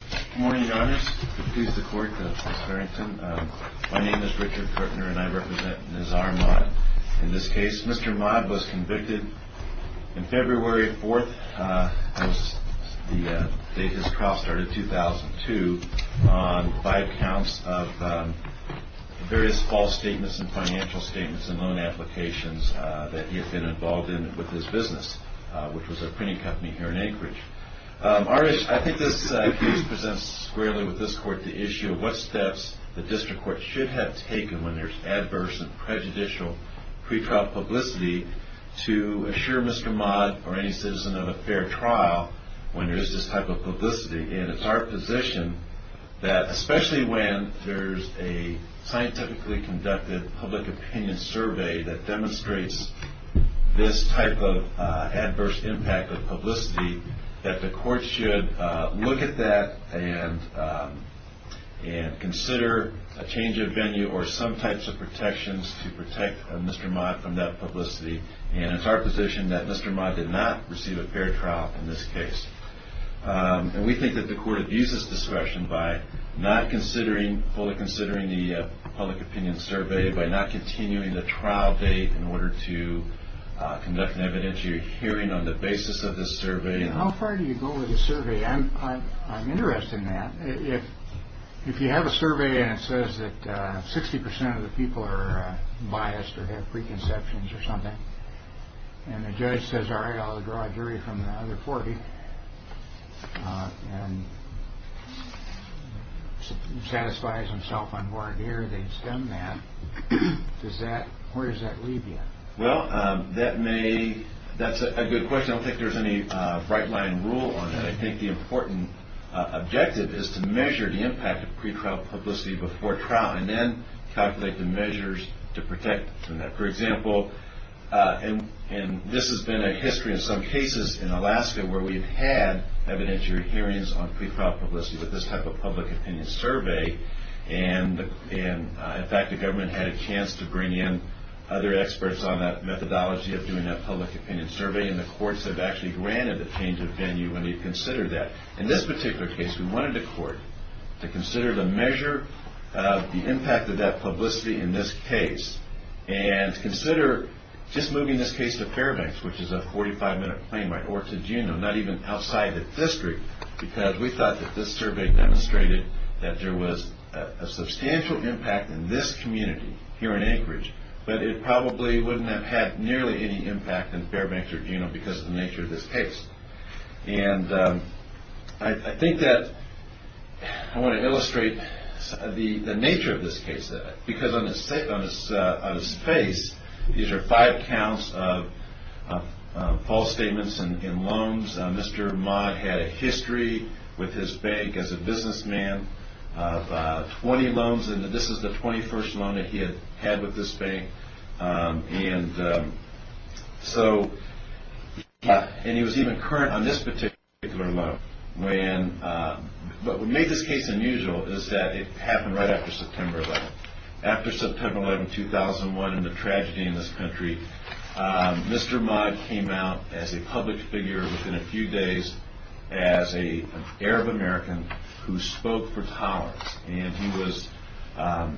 Good morning, your honors. I introduce the court to Ms. Farrington. My name is Richard Kortner and I represent Ms. R. Maad in this case. Mr. Maad was convicted in February 4th, the date his trial started, 2002, by accounts of various false statements and financial statements and loan applications that he had been involved in with his business, which was a printing company here in Anchorage. I think this case presents squarely with this court the issue of what steps the district court should have taken when there's adverse and prejudicial pretrial publicity to assure Mr. Maad or any citizen of a fair trial when there is this type of publicity. And it's our position that especially when there's a scientifically conducted public opinion survey that demonstrates this type of adverse impact of publicity, that the court should look at that and consider a change of venue or some types of protections to protect Mr. Maad from that publicity. And it's our position that Mr. Maad did not receive a fair trial in this case. And we think that the court abuses discretion by not considering, fully considering the public opinion survey, by not continuing the trial date in order to conduct an evidentiary hearing on the basis of the survey. And how far do you go with the survey? I'm interested in that. If you have a survey and it says that 60% of the people are biased or have preconceptions or something, and the judge says, all right, I'll draw a jury from the other 40 and satisfies himself on warrant here, they've done that, where does that leave you? Well, that's a good question. I don't think there's any bright line rule on that. I think the important objective is to measure the impact of pretrial publicity before trial and then calculate the measures to protect from that. For example, and this has been a history in some cases in Alaska where we've had evidentiary hearings on pretrial publicity with this type of public opinion survey. And in fact, the government had a chance to bring in other experts on that methodology of doing that public opinion survey, and the courts have actually granted the change of venue when they consider that. In this particular case, we wanted the court to consider the measure of the impact of that publicity in this case and consider just moving this case to Fairbanks, which is a 45-minute plane ride, or to Juneau, not even outside the district because we thought that this survey demonstrated that there was a substantial impact in this community here in Anchorage, but it probably wouldn't have had nearly any impact in Fairbanks or Juneau because of the nature of this case. And I think that I want to illustrate the nature of this case, because on his face, these are five counts of false statements and loans. Mr. Ma had a history with his bank as a businessman of 20 loans, and this is the 21st loan that he had had with this bank. And he was even current on this particular loan. But what made this case unusual is that it happened right after September 11. After September 11, 2001 and the tragedy in this country, Mr. Ma came out as a public figure within a few days as an Arab-American who spoke for tolerance. And he was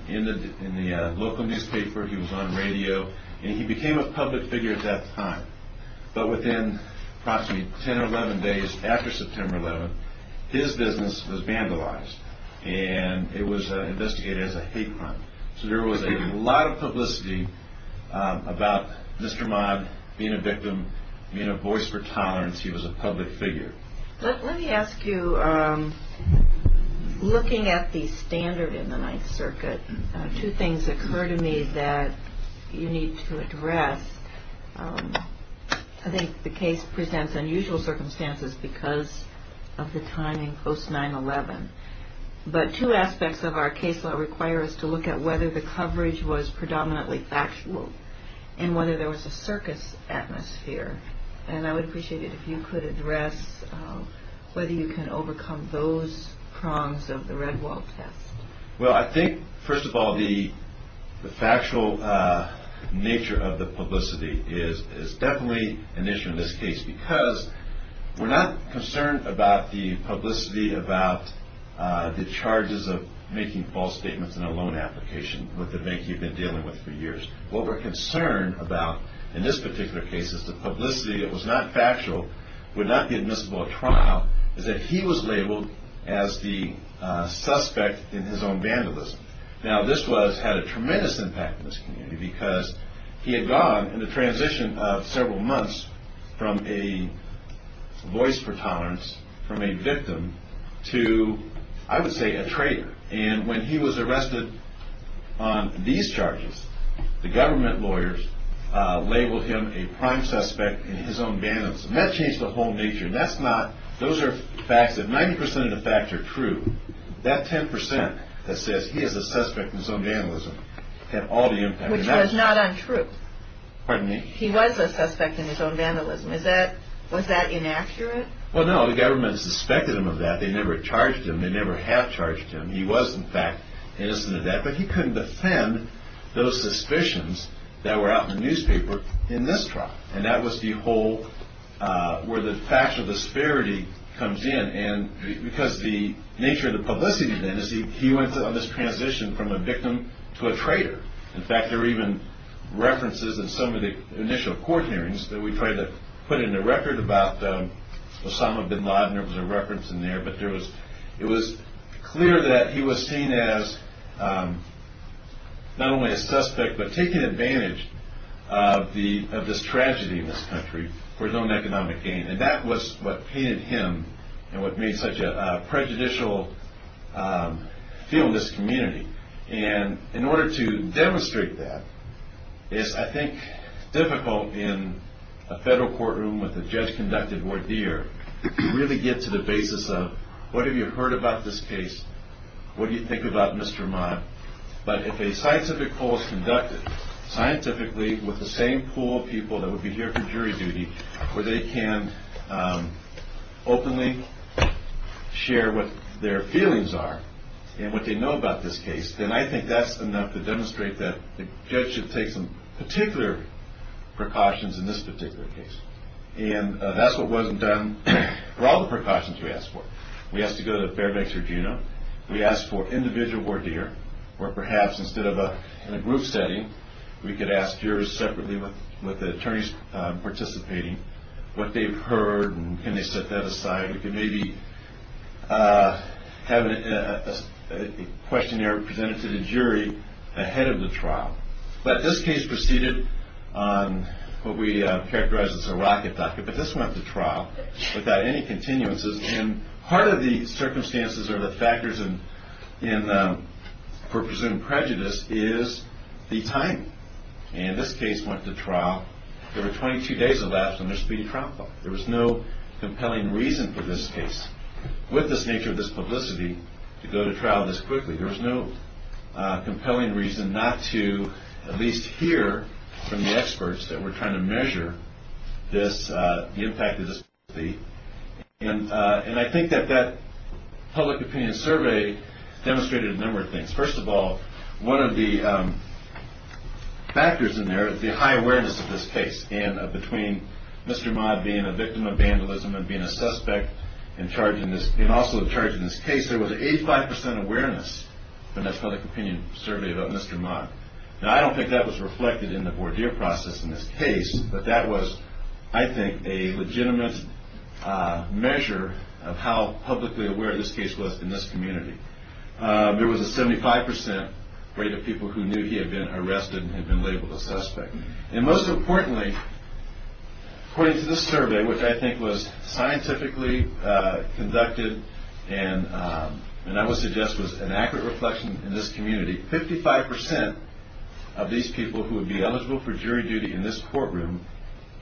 in the local newspaper. He was on radio, and he became a public figure at that time. But within approximately 10 or 11 days after September 11, his business was vandalized, and it was investigated as a hate crime. So there was a lot of publicity about Mr. Ma being a victim, being a voice for tolerance. He was a public figure. Let me ask you, looking at the standard in the Ninth Circuit, two things occur to me that you need to address. I think the case presents unusual circumstances because of the timing post-9-11. But two aspects of our case law require us to look at whether the coverage was predominantly factual and whether there was a circus atmosphere. And I would appreciate it if you could address whether you can overcome those prongs of the Red Wall test. Well, I think, first of all, the factual nature of the publicity is definitely an issue in this case because we're not concerned about the publicity about the charges of making false statements in a loan application with the bank you've been dealing with for years. What we're concerned about in this particular case is the publicity that was not factual, would not be admissible at trial, is that he was labeled as the suspect in his own vandalism. Now, this had a tremendous impact on this community because he had gone in the transition of several months from a voice for tolerance, from a victim, to, I would say, a traitor. And when he was arrested on these charges, the government lawyers labeled him a prime suspect in his own vandalism. That changed the whole nature. Those are facts. If 90 percent of the facts are true, that 10 percent that says he is a suspect in his own vandalism had all the impact. Which was not untrue. Pardon me? He was a suspect in his own vandalism. Was that inaccurate? Well, no. The government suspected him of that. They never charged him. They never have charged him. He was, in fact, innocent of that. But he couldn't defend those suspicions that were out in the newspaper in this trial. And that was the whole where the factual disparity comes in. And because the nature of the publicity then is he went on this transition from a victim to a traitor. In fact, there are even references in some of the initial court hearings that we tried to put in the record about Osama bin Laden. There was a reference in there. But it was clear that he was seen as not only a suspect, but taking advantage of this tragedy in this country for his own economic gain. And that was what painted him and what made such a prejudicial feel in this community. And in order to demonstrate that, it's, I think, difficult in a federal courtroom with a judge-conducted voir dire to really get to the basis of what have you heard about this case? What do you think about Mr. Ahmad? But if a scientific poll is conducted, scientifically, with the same pool of people that would be here for jury duty, where they can openly share what their feelings are and what they know about this case, then I think that's enough to demonstrate that the judge should take some particular precautions in this particular case. And that's what wasn't done for all the precautions we asked for. We asked to go to Fairbanks, Virginia. We asked for individual voir dire, where perhaps instead of in a group setting, we could ask jurors separately with the attorneys participating what they've heard and can they set that aside. We could maybe have a questionnaire presented to the jury ahead of the trial. But this case proceeded on what we characterize as a rocket docket. But this went to trial without any continuances. And part of the circumstances or the factors for presumed prejudice is the time. And this case went to trial. There were 22 days elapsed on this being trial filed. There was no compelling reason for this case, with this nature of this publicity, to go to trial this quickly. There was no compelling reason not to at least hear from the experts that were trying to measure the impact of this. And I think that that public opinion survey demonstrated a number of things. First of all, one of the factors in there is the high awareness of this case. And between Mr. Ma being a victim of vandalism and being a suspect and also the charge in this case, there was 85 percent awareness in that public opinion survey about Mr. Ma. Now, I don't think that was reflected in the Bourdier process in this case, but that was, I think, a legitimate measure of how publicly aware this case was in this community. There was a 75 percent rate of people who knew he had been arrested and had been labeled a suspect. And most importantly, according to this survey, which I think was scientifically conducted and I would suggest was an accurate reflection in this community, 55 percent of these people who would be eligible for jury duty in this courtroom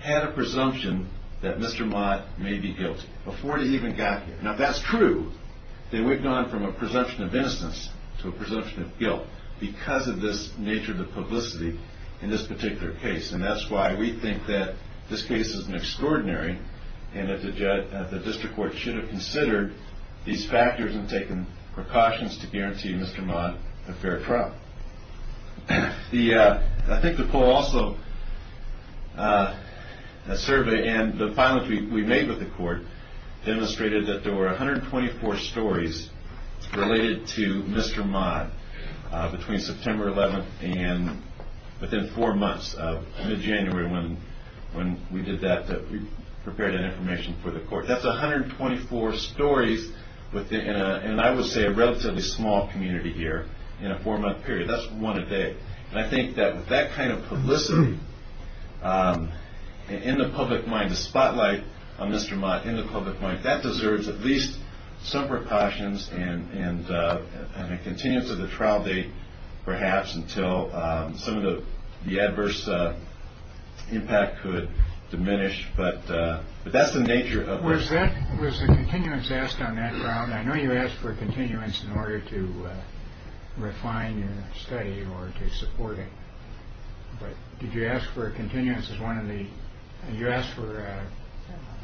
had a presumption that Mr. Ma may be guilty before they even got here. Now, if that's true, then we've gone from a presumption of innocence to a presumption of guilt because of this nature of the publicity in this particular case. And that's why we think that this case is an extraordinary and that the district court should have considered these factors and taken precautions to guarantee Mr. Ma a fair trial. I think the poll also, the survey and the findings we made with the court, demonstrated that there were 124 stories related to Mr. Ma between September 11th and within four months of mid-January when we did that, that we prepared that information for the court. That's 124 stories within, I would say, a relatively small community here in a four-month period. That's one a day. And I think that with that kind of publicity in the public mind, the spotlight on Mr. Ma in the public mind, that deserves at least some precautions and a continuance of the trial date, perhaps, until some of the adverse impact could diminish. But that's the nature of it. Was the continuance asked on that ground? I know you asked for a continuance in order to refine your study or to support it. But did you ask for a continuance as one of the, did you ask for a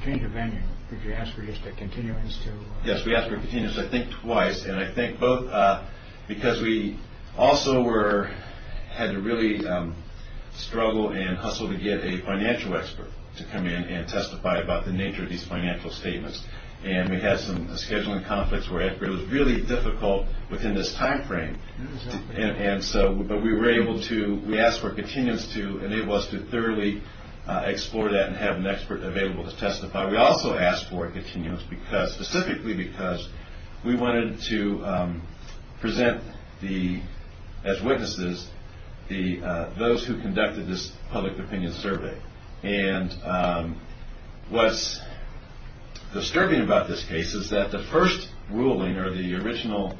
change of venue? Did you ask for just a continuance to? Yes, we asked for a continuance, I think, twice. And I think both because we also were, had to really struggle and hustle to get a financial expert to come in and testify about the nature of these financial statements. And we had some scheduling conflicts where it was really difficult within this timeframe. And so, but we were able to, we asked for a continuance to enable us to thoroughly explore that and have an expert available to testify. We also asked for a continuance because, specifically because, we wanted to present the, as witnesses, those who conducted this public opinion survey. And what's disturbing about this case is that the first ruling or the original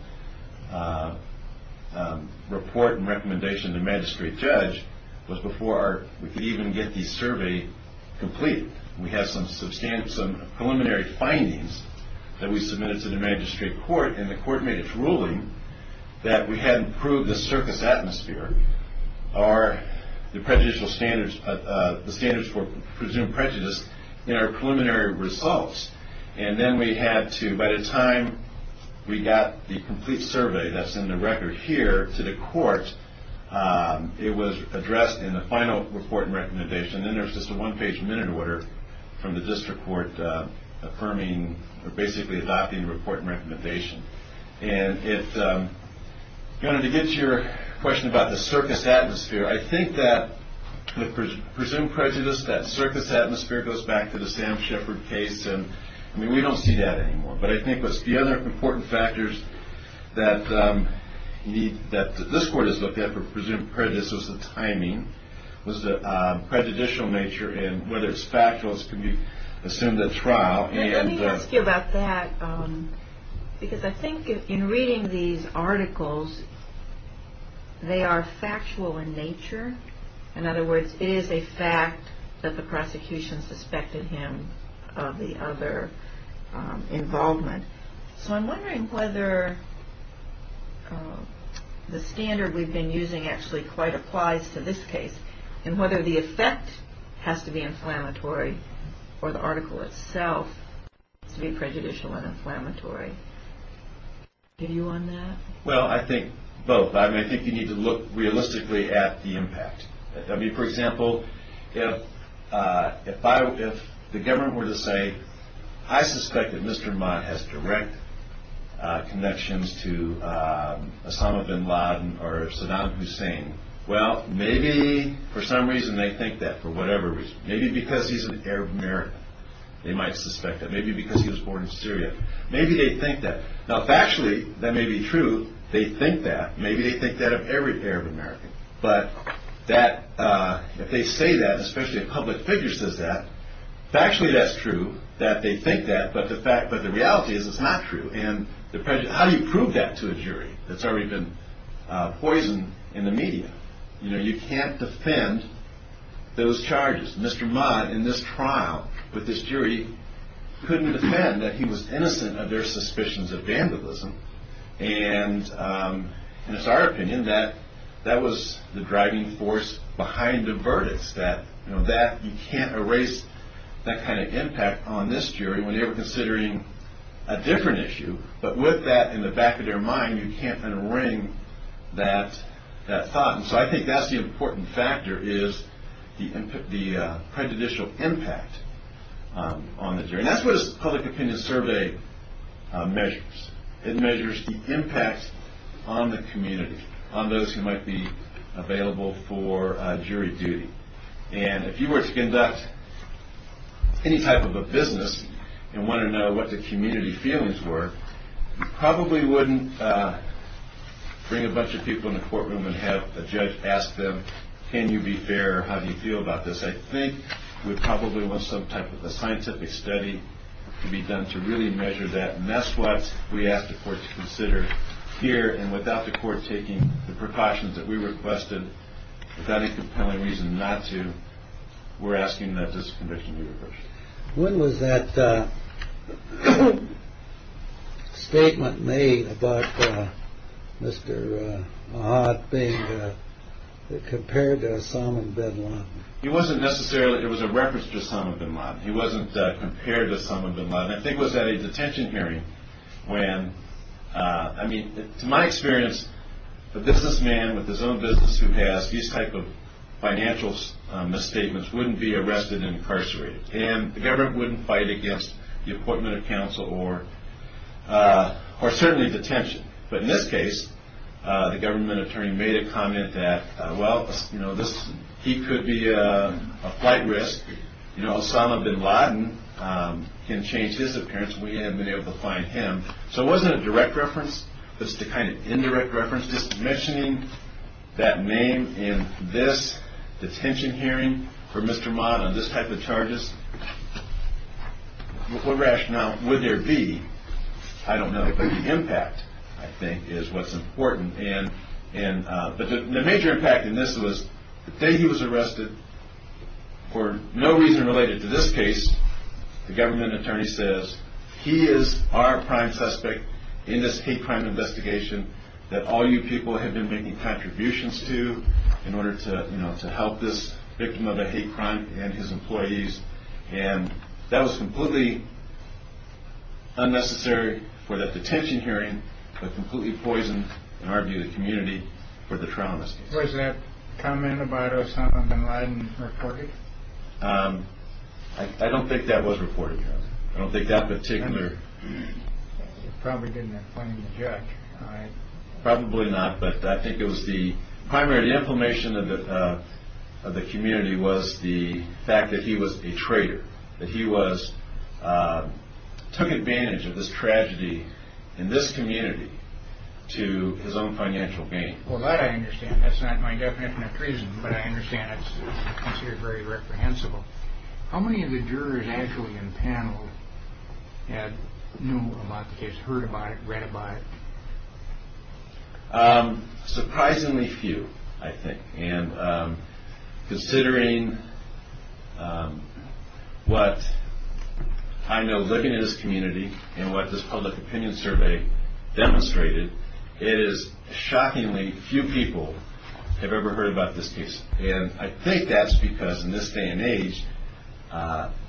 report and recommendation to the magistrate judge was before we could even get the survey complete. We have some preliminary findings that we submitted to the magistrate court. And the court made its ruling that we hadn't proved the circus atmosphere or the prejudicial standards, the standards for presumed prejudice in our preliminary results. And then we had to, by the time we got the complete survey that's in the record here to the court, it was addressed in the final report and recommendation. And then there's just a one-page minute order from the district court affirming, or basically adopting the report and recommendation. And if you wanted to get to your question about the circus atmosphere, I think that the presumed prejudice, that circus atmosphere, goes back to the Sam Shepard case. And, I mean, we don't see that anymore. But I think the other important factors that this court has looked at for presumed prejudice was the timing, was the prejudicial nature, and whether it's factual as can be assumed at trial. And let me ask you about that, because I think in reading these articles, they are factual in nature. In other words, it is a fact that the prosecution suspected him of the other involvement. So I'm wondering whether the standard we've been using actually quite applies to this case, and whether the effect has to be inflammatory, or the article itself has to be prejudicial and inflammatory. Do you agree on that? Well, I think both. I mean, I think you need to look realistically at the impact. I mean, for example, if the government were to say, I suspect that Mr. Mott has direct connections to Osama bin Laden or Saddam Hussein, well, maybe for some reason they think that, for whatever reason. Maybe because he's an Arab American, they might suspect that. Maybe because he was born in Syria. Maybe they think that. Now factually, that may be true, they think that. Maybe they think that of every Arab American. But if they say that, especially if a public figure says that, factually that's true, that they think that. But the reality is it's not true. How do you prove that to a jury that's already been poisoned in the media? You know, you can't defend those charges. Mr. Mott, in this trial with this jury, couldn't defend that he was innocent of their suspicions of vandalism. And it's our opinion that that was the driving force behind the verdicts, that you can't erase that kind of impact on this jury when they were considering a different issue. But with that in the back of their mind, you can't un-ring that thought. And so I think that's the important factor, is the prejudicial impact on the jury. And that's what a public opinion survey measures. It measures the impact on the community, on those who might be available for jury duty. And if you were to conduct any type of a business and want to know what the community feelings were, you probably wouldn't bring a bunch of people in the courtroom and have a judge ask them, can you be fair, how do you feel about this? I think we probably want some type of a scientific study to be done to really measure that. And that's what we ask the court to consider here. And without the court taking the precautions that we requested, without any compelling reason not to, we're asking that this conviction be reversed. When was that statement made about Mr. Mott being compared to Osama bin Laden? It wasn't necessarily – it was a reference to Osama bin Laden. He wasn't compared to Osama bin Laden. I think it was at a detention hearing when – I mean, to my experience, the businessman with his own business who has these type of financial misstatements wouldn't be arrested and incarcerated. And the government wouldn't fight against the appointment of counsel or certainly detention. But in this case, the government attorney made a comment that, well, he could be a flight risk. You know, Osama bin Laden can change his appearance. We haven't been able to find him. So it wasn't a direct reference. It was just a kind of indirect reference. Just mentioning that name in this detention hearing for Mr. Mott on this type of charges, what rationale would there be? I don't know. But the impact, I think, is what's important. But the major impact in this was the day he was arrested, for no reason related to this case, the government attorney says, he is our prime suspect in this hate crime investigation that all you people have been making contributions to in order to, you know, to help this victim of a hate crime and his employees. And that was completely unnecessary for the detention hearing, but completely poisoned, in our view, the community for the trauma. Was that comment about Osama bin Laden reported? I don't think that was reported. I don't think that particular... You probably didn't have plenty to judge. Probably not, but I think it was the primary inflammation of the community was the fact that he was a traitor, that he took advantage of this tragedy in this community to his own financial gain. Well, that I understand. That's not my definition of treason, but I understand it's considered very reprehensible. How many of the jurors actually in the panel had known about the case, heard about it, read about it? Surprisingly few, I think. And considering what I know looking at this community and what this public opinion survey demonstrated, it is shockingly few people have ever heard about this case. And I think that's because in this day and age,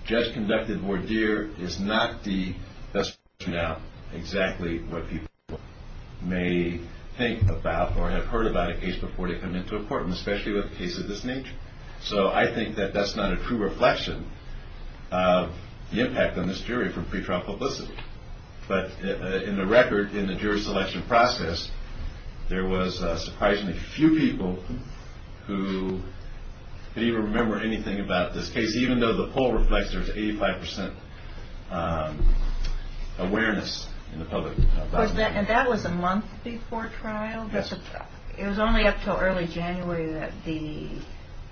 judge-conducted voir dire is not the best way to find out exactly what people may think about or have heard about a case before they come into a court, and especially with a case of this nature. So I think that that's not a true reflection of the impact on this jury from pretrial publicity. But in the record, in the jury selection process, there was surprisingly few people who could even remember anything about this case, even though the poll reflects there's 85% awareness in the public. And that was a month before trial? Yes. It was only up until early January that the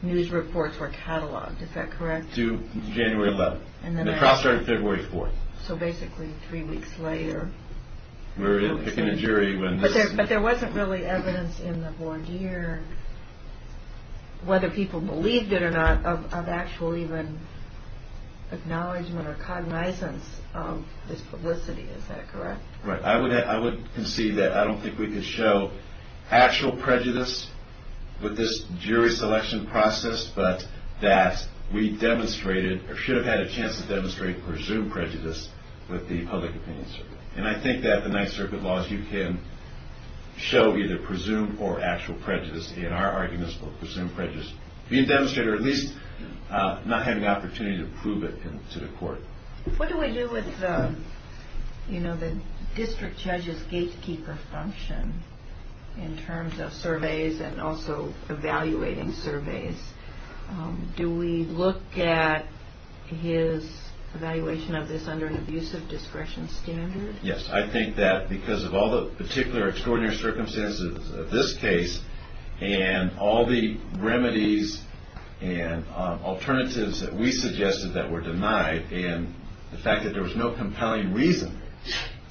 news reports were catalogued, is that correct? To January 11th. And the trial started February 4th. So basically three weeks later. We were picking a jury when this... But there wasn't really evidence in the voir dire, whether people believed it or not, of actual even acknowledgment or cognizance of this publicity. Is that correct? Right. I would concede that I don't think we could show actual prejudice with this jury selection process, but that we demonstrated, or should have had a chance to demonstrate, presumed prejudice with the public opinion circuit. And I think that the Ninth Circuit laws, you can show either presumed or actual prejudice. And our argument is for presumed prejudice being demonstrated, or at least not having the opportunity to prove it to the court. What do we do with the district judge's gatekeeper function, in terms of surveys and also evaluating surveys? Do we look at his evaluation of this under an abusive discretion standard? Yes. I think that because of all the particular extraordinary circumstances of this case, and all the remedies and alternatives that we suggested that were denied, and the fact that there was no compelling reason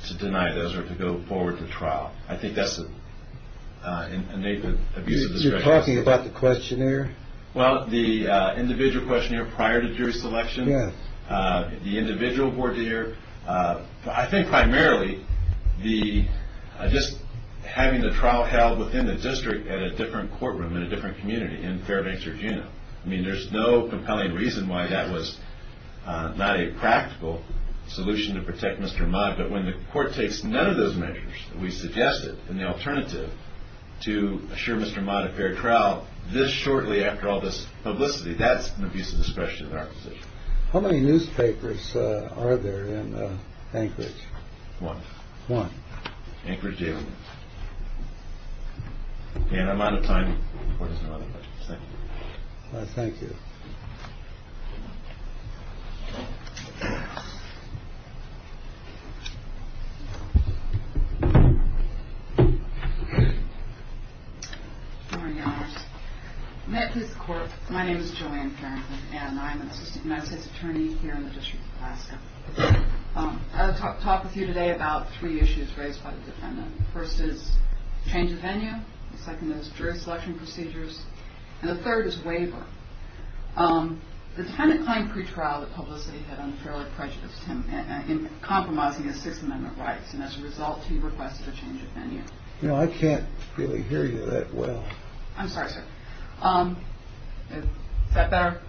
to deny those or to go forward to trial. I think that's an innate abuse of discretion. You're talking about the questionnaire? Well, the individual questionnaire prior to jury selection. Yes. The individual voir dire. I think primarily just having the trial held within the district at a different courtroom, in a different community, in Fairbanks or Juneau. I mean, there's no compelling reason why that was not a practical solution to protect Mr. Mott. But when the court takes none of those measures that we suggested, and the alternative to assure Mr. Mott a fair trial this shortly after all this publicity, that's an abuse of discretion in our position. How many newspapers are there in Anchorage? One. One. Anchorage Daily News. And I'm out of time. Thank you. Good morning, Your Honors. May it please the Court, my name is Joanne Farrington, and I'm an Assistant United States Attorney here in the District of Alaska. I'll talk with you today about three issues raised by the defendant. The first is change of venue. The second is jury selection procedures. And the third is waiver. The defendant claimed pretrial that publicity had unfairly prejudiced him in compromising his Sixth Amendment rights, and as a result he requested a change of venue. No, I can't really hear you that well. I'm sorry, sir. Is that better?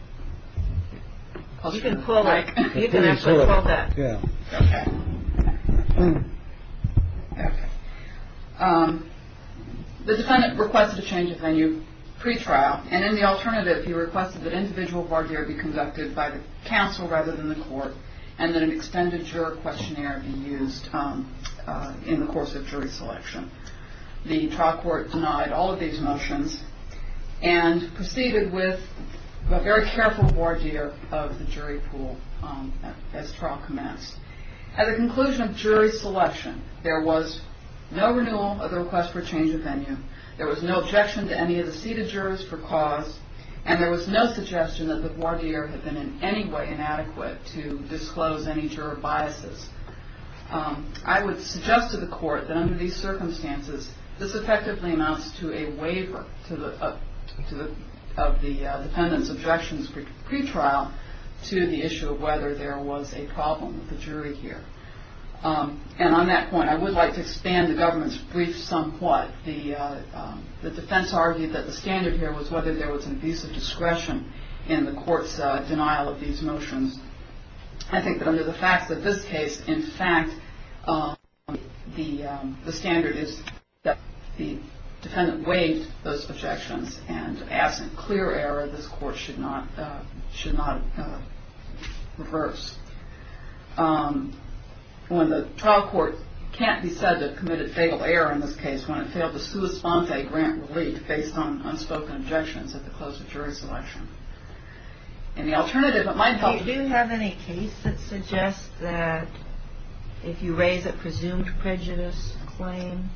You can actually quote that. Yeah. Okay. The defendant requested a change of venue pretrial, and in the alternative, he requested that individual voir dire be conducted by the counsel rather than the court, and that an extended juror questionnaire be used in the course of jury selection. The trial court denied all of these motions and proceeded with a very careful voir dire of the jury pool as trial commenced. At the conclusion of jury selection, there was no renewal of the request for change of venue. There was no objection to any of the seated jurors for cause, and there was no suggestion that the voir dire had been in any way inadequate to disclose any juror biases. I would suggest to the court that under these circumstances, this effectively amounts to a waiver of the defendant's objections pretrial to the issue of whether there was a problem with the jury here. And on that point, I would like to expand the government's brief somewhat, but the defense argued that the standard here was whether there was an abuse of discretion in the court's denial of these motions. I think that under the facts of this case, in fact, the standard is that the defendant waived those objections, and absent clear error, this court should not reverse. When the trial court can't be said to have committed fatal error in this case, when it failed to sua sponte grant relief based on unspoken objections at the close of jury selection. And the alternative that might help... Do you have any case that suggests that if you raise a presumed prejudice claim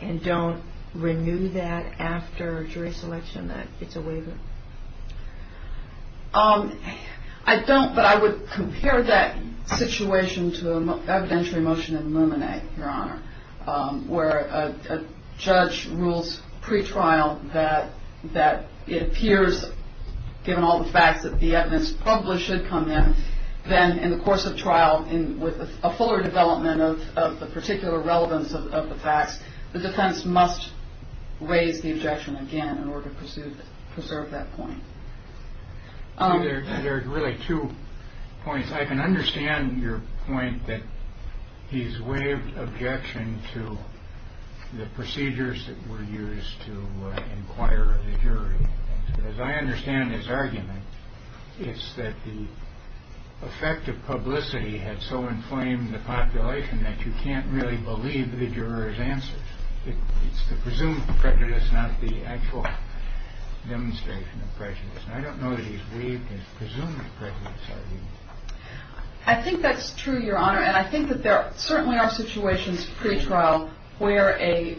and don't renew that after jury selection, that it's a waiver? I don't, but I would compare that situation to an evidentiary motion in Luminae, Your Honor, where a judge rules pretrial that it appears, given all the facts that the evidence published should come in, then in the course of trial, with a fuller development of the particular relevance of the facts, the defense must raise the objection again in order to preserve that point. There are really two points. I can understand your point that he's waived objection to the procedures that were used to inquire the jury. As I understand his argument, it's that the effect of publicity had so inflamed the population that you can't really believe the juror's answer. It's the presumed prejudice, not the actual demonstration of prejudice. And I don't know that he's waived his presumed prejudice argument. I think that's true, Your Honor, and I think that there certainly are situations pretrial where a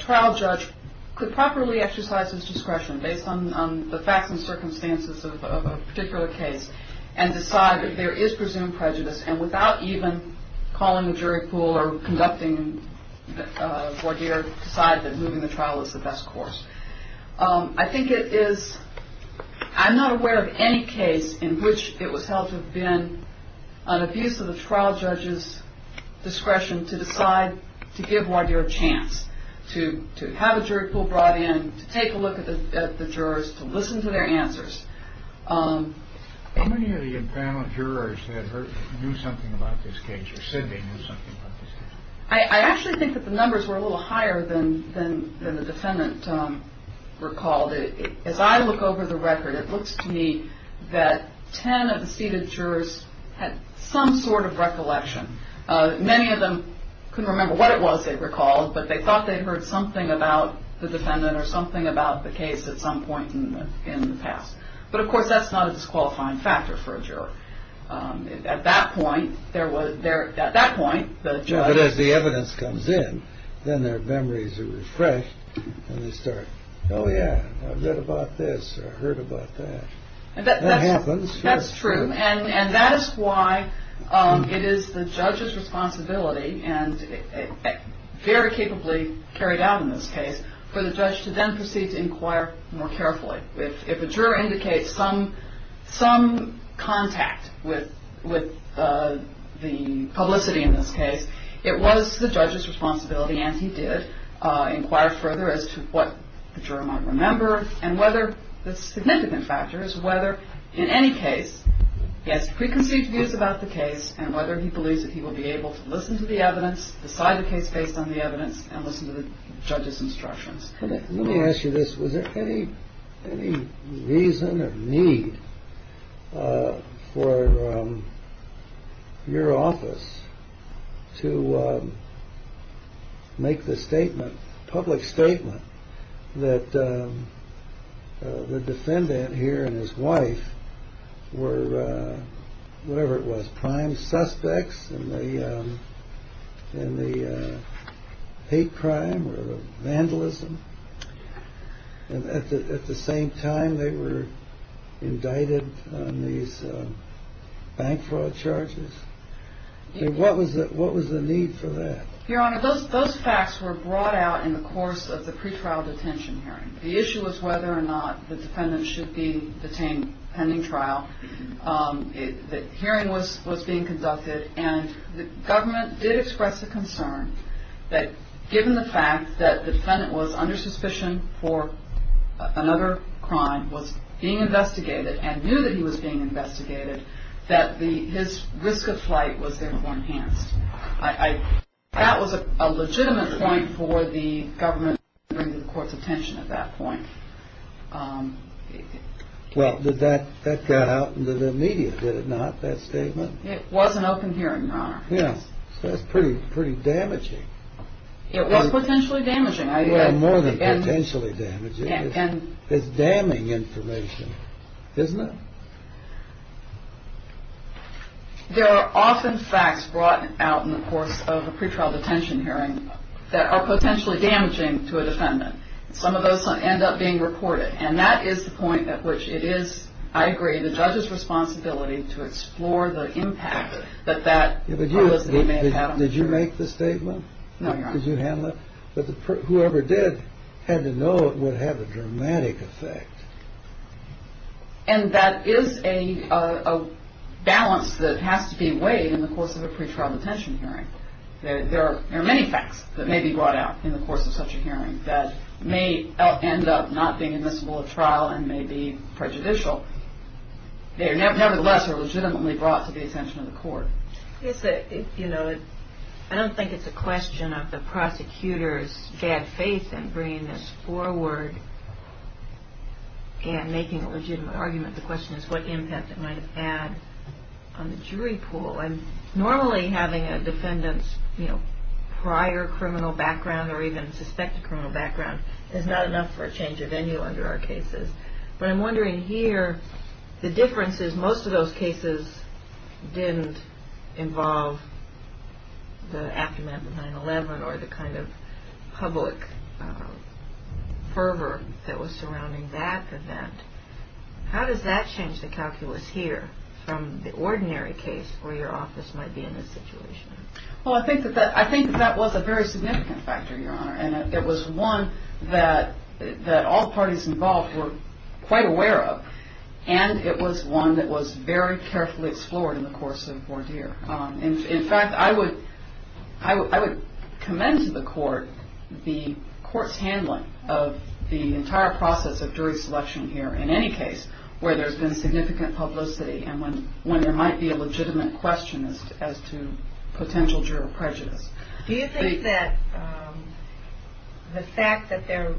trial judge could properly exercise his discretion based on the facts and circumstances of a particular case and decide that there is presumed prejudice, and without even calling a jury pool or conducting voir dire, decide that moving the trial is the best course. I'm not aware of any case in which it was held to have been an abuse of the trial judge's discretion to decide to give voir dire a chance, to have a jury pool brought in, to take a look at the jurors, to listen to their answers, How many of the impound jurors knew something about this case, or said they knew something about this case? I actually think that the numbers were a little higher than the defendant recalled. As I look over the record, it looks to me that ten of the seated jurors had some sort of recollection. Many of them couldn't remember what it was they recalled, but they thought they'd heard something about the defendant or something about the case at some point in the past. But, of course, that's not a disqualifying factor for a juror. At that point, the judge... But as the evidence comes in, then their memories are refreshed, and they start, oh, yeah, I've read about this or heard about that. That happens. That's true, and that is why it is the judge's responsibility and very capably carried out in this case for the judge to then proceed to inquire more carefully. If a juror indicates some contact with the publicity in this case, it was the judge's responsibility, and he did, inquire further as to what the juror might remember and whether the significant factor is whether, in any case, he has preconceived views about the case and whether he believes that he will be able to listen to the evidence, decide the case based on the evidence, and listen to the judge's instructions. Let me ask you this. Was there any reason or need for your office to make the statement, public statement, that the defendant here and his wife were, whatever it was, prime suspects in the hate crime or vandalism? And at the same time, they were indicted on these bank fraud charges? What was the need for that? Your Honor, those facts were brought out in the course of the pretrial detention hearing. The issue was whether or not the defendant should be detained pending trial. The hearing was being conducted, and the government did express a concern that, given the fact that the defendant was under suspicion for another crime, was being investigated, and knew that he was being investigated, that his risk of flight was therefore enhanced. That was a legitimate point for the government to bring to the court's attention at that point. Well, that got out into the media, did it not, that statement? It was an open hearing, Your Honor. Yes, so that's pretty damaging. It was potentially damaging. Well, more than potentially damaging. It's damning information, isn't it? There are often facts brought out in the course of a pretrial detention hearing that are potentially damaging to a defendant. Some of those end up being reported, and that is the point at which it is, I agree, the judge's responsibility to explore the impact that that publicity may have had. Did you make the statement? No, Your Honor. Could you handle it? But whoever did had to know it would have a dramatic effect. And that is a balance that has to be weighed in the course of a pretrial detention hearing. There are many facts that may be brought out in the course of such a hearing that may end up not being admissible at trial and may be prejudicial. They nevertheless are legitimately brought to the attention of the court. I don't think it's a question of the prosecutor's bad faith in bringing this forward and making a legitimate argument. The question is what impact it might have had on the jury pool. Normally having a defendant's prior criminal background or even suspected criminal background is not enough for a change of venue under our cases. But I'm wondering here, the difference is most of those cases didn't involve the aftermath of 9-11 or the kind of public fervor that was surrounding that event. How does that change the calculus here from the ordinary case where your office might be in this situation? Well, I think that that was a very significant factor, Your Honor. It was one that all parties involved were quite aware of and it was one that was very carefully explored in the course of voir dire. In fact, I would commend to the court the court's handling of the entire process of jury selection here in any case where there's been significant publicity and when there might be a legitimate question as to potential juror prejudice. Do you think that the fact that there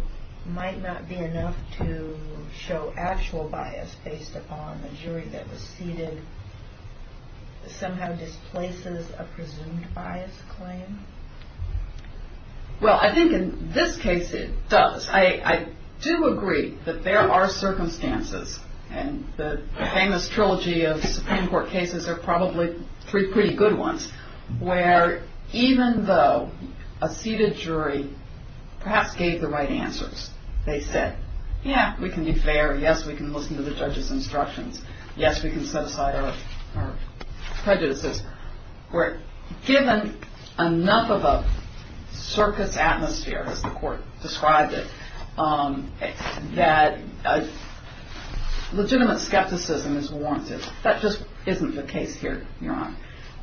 might not be enough to show actual bias based upon the jury that was seated somehow displaces a presumed bias claim? Well, I think in this case it does. I do agree that there are circumstances and the famous trilogy of Supreme Court cases are probably three pretty good ones where even though a seated jury perhaps gave the right answers, they said, yeah, we can be fair, yes, we can listen to the judge's instructions, yes, we can set aside our prejudices, where given enough of a circus atmosphere, as the court described it, that legitimate skepticism is warranted. That just isn't the case here, Your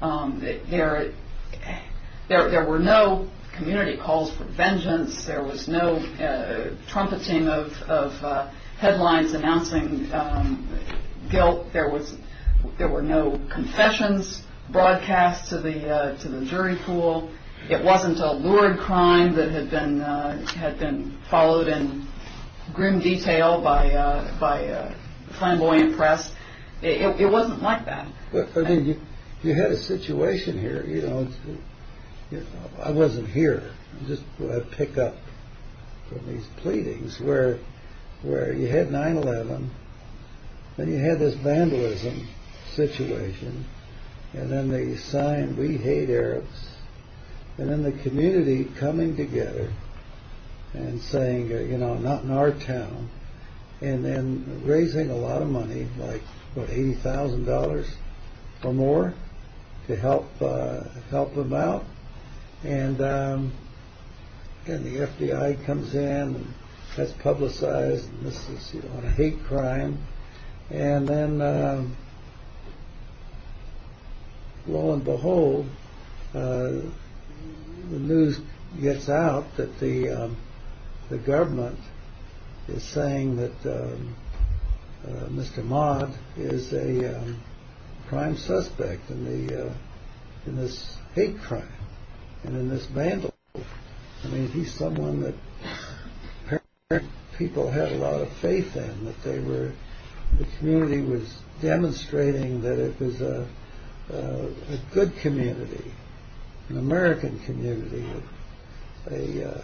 Honor. There were no community calls for vengeance. There was no trumpeting of headlines announcing guilt. There were no confessions broadcast to the jury pool. It wasn't a lured crime that had been followed in grim detail by flamboyant press. It wasn't like that. You had a situation here. I wasn't here. I just picked up from these pleadings where you had 9-11 and you had this vandalism situation and then they signed, we hate Arabs, and then the community coming together and saying, you know, not in our town, and then raising a lot of money, like, what, $80,000 or more to help them out, and the F.D.I. comes in and that's publicized and this is, you know, a hate crime, and then, lo and behold, the news gets out that the government is saying that Mr. Mott is a crime suspect in this hate crime and in this vandalism. I mean, he's someone that people had a lot of faith in, that the community was demonstrating that it was a good community, an American community, a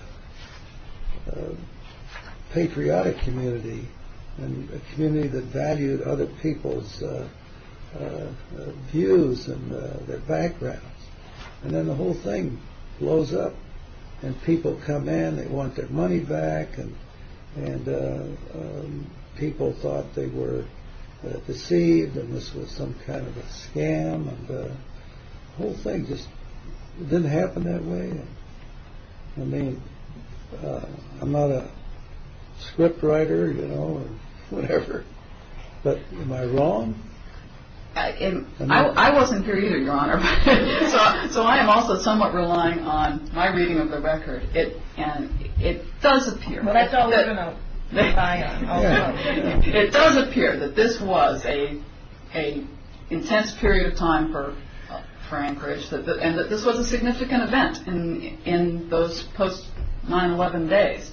patriotic community, and a community that valued other people's views and their backgrounds, and then the whole thing blows up and people come in, they want their money back, and people thought they were deceived and this was some kind of a scam, and the whole thing just didn't happen that way. I mean, I'm not a script writer, you know, or whatever, but am I wrong? I wasn't here either, Your Honor, so I am also somewhat relying on my reading of the record, and it does appear that this was an intense period of time for Anchorage, and that this was a significant event in those post-9-11 days.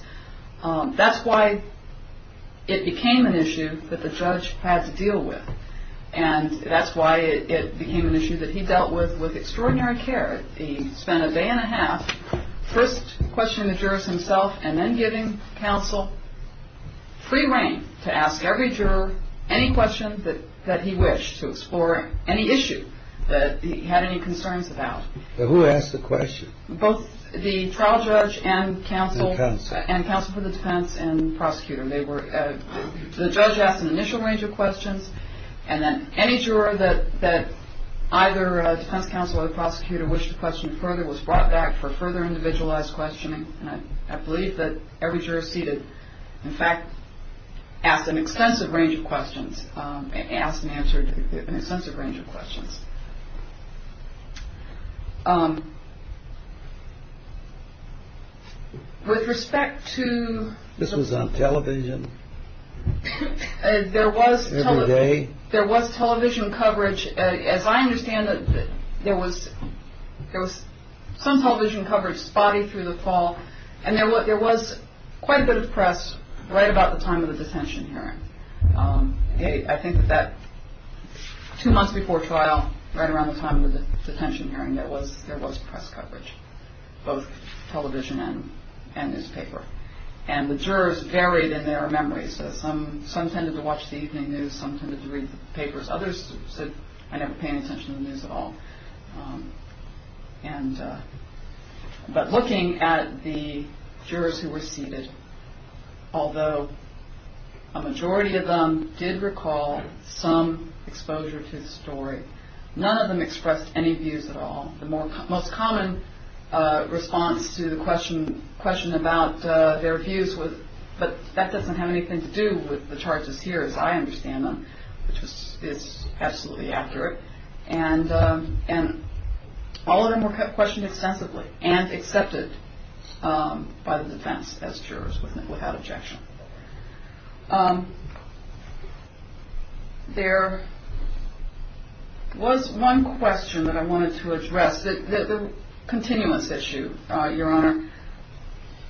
That's why it became an issue that the judge had to deal with, and that's why it became an issue that he dealt with with extraordinary care. He spent a day and a half first questioning the jurors himself and then giving counsel free reign to ask every juror any question that he wished, to explore any issue that he had any concerns about. Who asked the question? Both the trial judge and counsel for the defense and prosecutor. The judge asked an initial range of questions, and then any juror that either defense counsel or the prosecutor wished to question further was brought back for further individualized questioning, and I believe that every juror seated, in fact, asked an extensive range of questions, and answered an extensive range of questions. With respect to- This was on television? There was television coverage. As I understand it, there was some television coverage spotty through the fall, and there was quite a bit of press right about the time of the detention hearing. I think that two months before trial, right around the time of the detention hearing, there was press coverage, both television and newspaper, and the jurors varied in their memories. Some tended to watch the evening news. Some tended to read the papers. Others said, I never pay any attention to the news at all. But looking at the jurors who were seated, although a majority of them did recall some exposure to the story, none of them expressed any views at all. The most common response to the question about their views was, but that doesn't have anything to do with the charges here, as I understand them, which is absolutely accurate, and all of them were questioned extensively and accepted by the defense as jurors without objection. There was one question that I wanted to address, the continuance issue, Your Honor.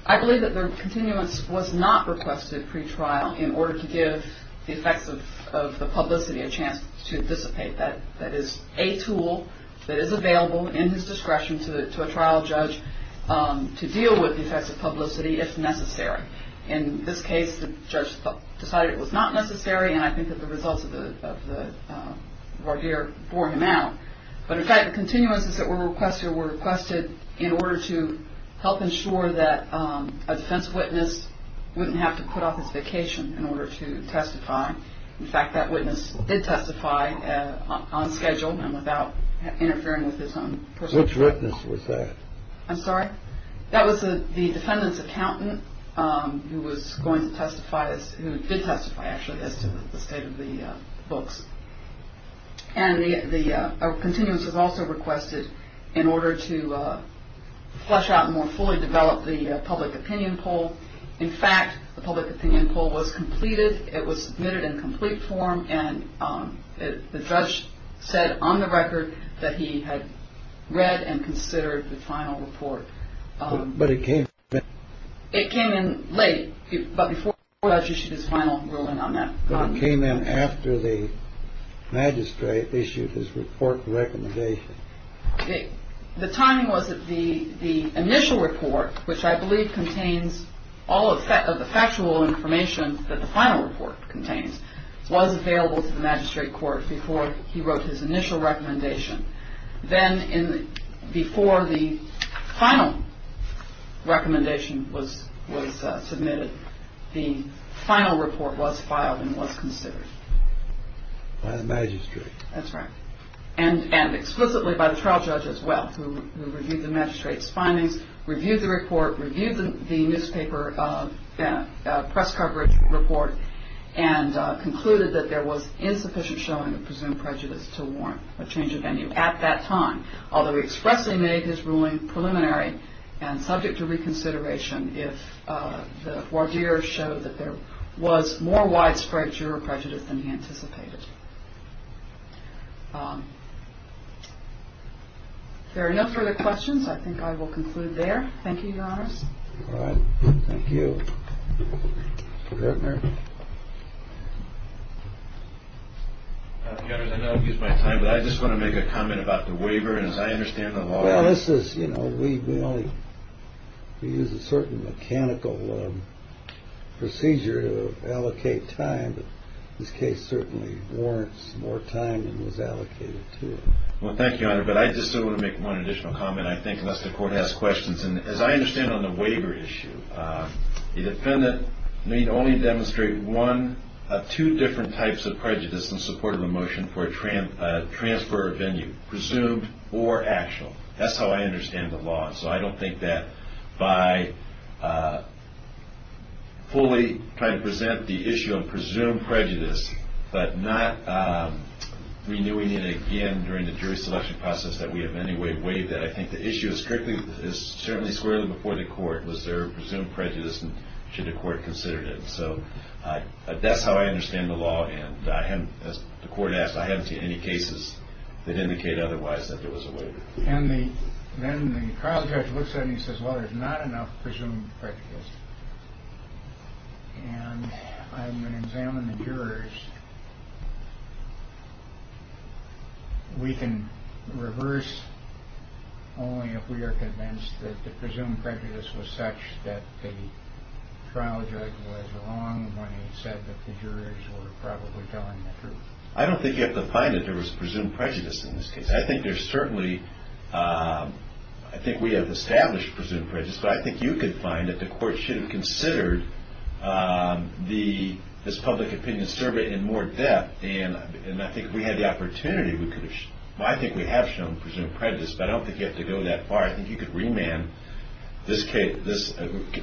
I believe that the continuance was not requested pre-trial in order to give the effects of the publicity a chance to dissipate. That is a tool that is available in his discretion to a trial judge to deal with the effects of publicity if necessary. In this case, the judge decided it was not necessary, and I think that the results of the voir dire bore him out. But in fact, the continuances that were requested were requested in order to help ensure that a defense witness wouldn't have to put off his vacation in order to testify. In fact, that witness did testify on schedule and without interfering with his own personal life. Which witness was that? I'm sorry? That was the defendant's accountant who was going to testify, who did testify, actually, as to the state of the books. And the continuance was also requested in order to flesh out and more fully develop the public opinion poll. In fact, the public opinion poll was completed. It was submitted in complete form. And the judge said on the record that he had read and considered the final report. But it came in. It came in late, but before the judge issued his final ruling on that. It came in after the magistrate issued his report recommendation. The timing was that the initial report, which I believe contains all of the factual information that the final report contains, was available to the magistrate court before he wrote his initial recommendation. Then before the final recommendation was submitted, the final report was filed and was considered. By the magistrate. That's right. And explicitly by the trial judge as well, who reviewed the magistrate's findings, reviewed the report, reviewed the newspaper press coverage report, and concluded that there was insufficient showing of presumed prejudice to warrant a change of venue at that time. Although he expressly made his ruling preliminary and subject to reconsideration, if the voir dire showed that there was more widespread juror prejudice than he anticipated. If there are no further questions, I think I will conclude there. Thank you, Your Honors. Thank you. Mr. Gertner. Your Honors, I know I've used my time, but I just want to make a comment about the waiver. As I understand the law. Well, this is, you know, we only use a certain mechanical procedure to allocate time. But this case certainly warrants more time than was allocated to it. Well, thank you, Your Honor. But I just want to make one additional comment. And I think unless the Court has questions. And as I understand on the waiver issue, the defendant may only demonstrate one of two different types of prejudice in support of a motion for a transfer of venue, presumed or actual. That's how I understand the law. So I don't think that by fully trying to present the issue of presumed prejudice, but not renewing it again during the jury selection process that we have anyway waived that. I think the issue is certainly squarely before the Court. Was there presumed prejudice and should the Court consider it? So that's how I understand the law. And as the Court asked, I haven't seen any cases that indicate otherwise that there was a waiver. And then the trial judge looks at it and he says, well, there's not enough presumed prejudice. And I'm going to examine the jurors. We can reverse only if we are convinced that the presumed prejudice was such that the trial judge was wrong when he said that the jurors were probably telling the truth. I don't think you have to find that there was presumed prejudice in this case. I think there's certainly – I think we have established presumed prejudice. But I think you could find that the Court should have considered this public opinion survey in more depth. And I think if we had the opportunity, we could have – well, I think we have shown presumed prejudice. But I don't think you have to go that far. I think you could remand this case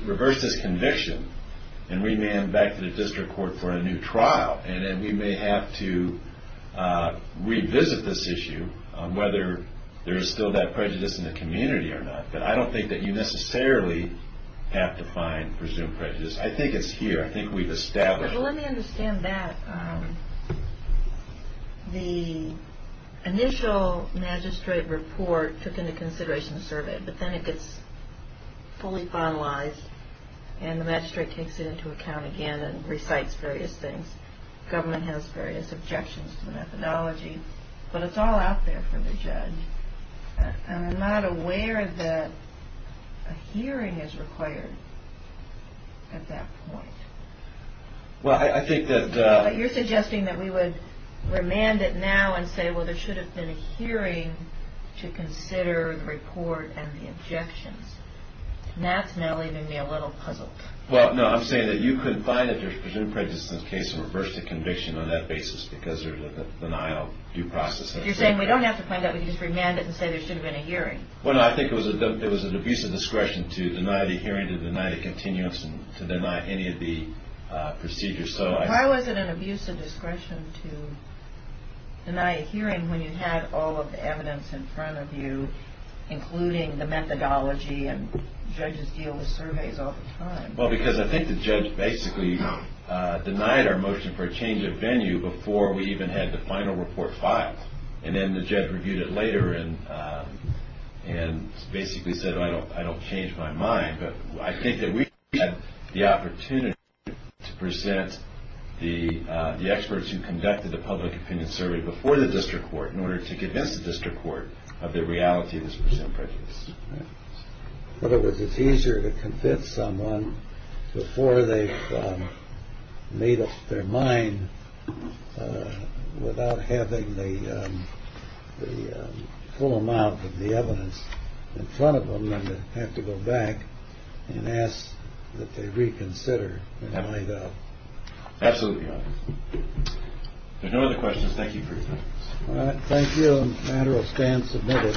– reverse this conviction and remand back to the district court for a new trial. And then we may have to revisit this issue on whether there is still that prejudice in the community or not. But I don't think that you necessarily have to find presumed prejudice. I think it's here. I think we've established it. But let me understand that. The initial magistrate report took into consideration the survey, but then it gets fully finalized and the magistrate takes it into account again and recites various things. Government has various objections to the methodology. But it's all out there for the judge. I'm not aware that a hearing is required at that point. Well, I think that – But you're suggesting that we would remand it now and say, well, there should have been a hearing to consider the report and the objections. And that's now leaving me a little puzzled. Well, no, I'm saying that you could find that there's presumed prejudice in this case and reverse the conviction on that basis because there's a denial of due process. But you're saying we don't have to find that. We can just remand it and say there should have been a hearing. Well, no, I think it was an abuse of discretion to deny the hearing, to deny the continuance, and to deny any of the procedures. Why was it an abuse of discretion to deny a hearing when you had all of the evidence in front of you, including the methodology and judges deal with surveys all the time? Well, because I think the judge basically denied our motion for a change of venue before we even had the final report filed. And then the judge reviewed it later and basically said, well, I don't change my mind. But I think that we had the opportunity to present the experts who conducted the public opinion survey before the district court in order to convince the district court of the reality of this presumed prejudice. In other words, it's easier to convince someone before they've made up their mind without having the full amount of the evidence in front of them than to have to go back and ask that they reconsider and find out. Absolutely. If there are no other questions, thank you for your time. Thank you. The matter will stand submitted.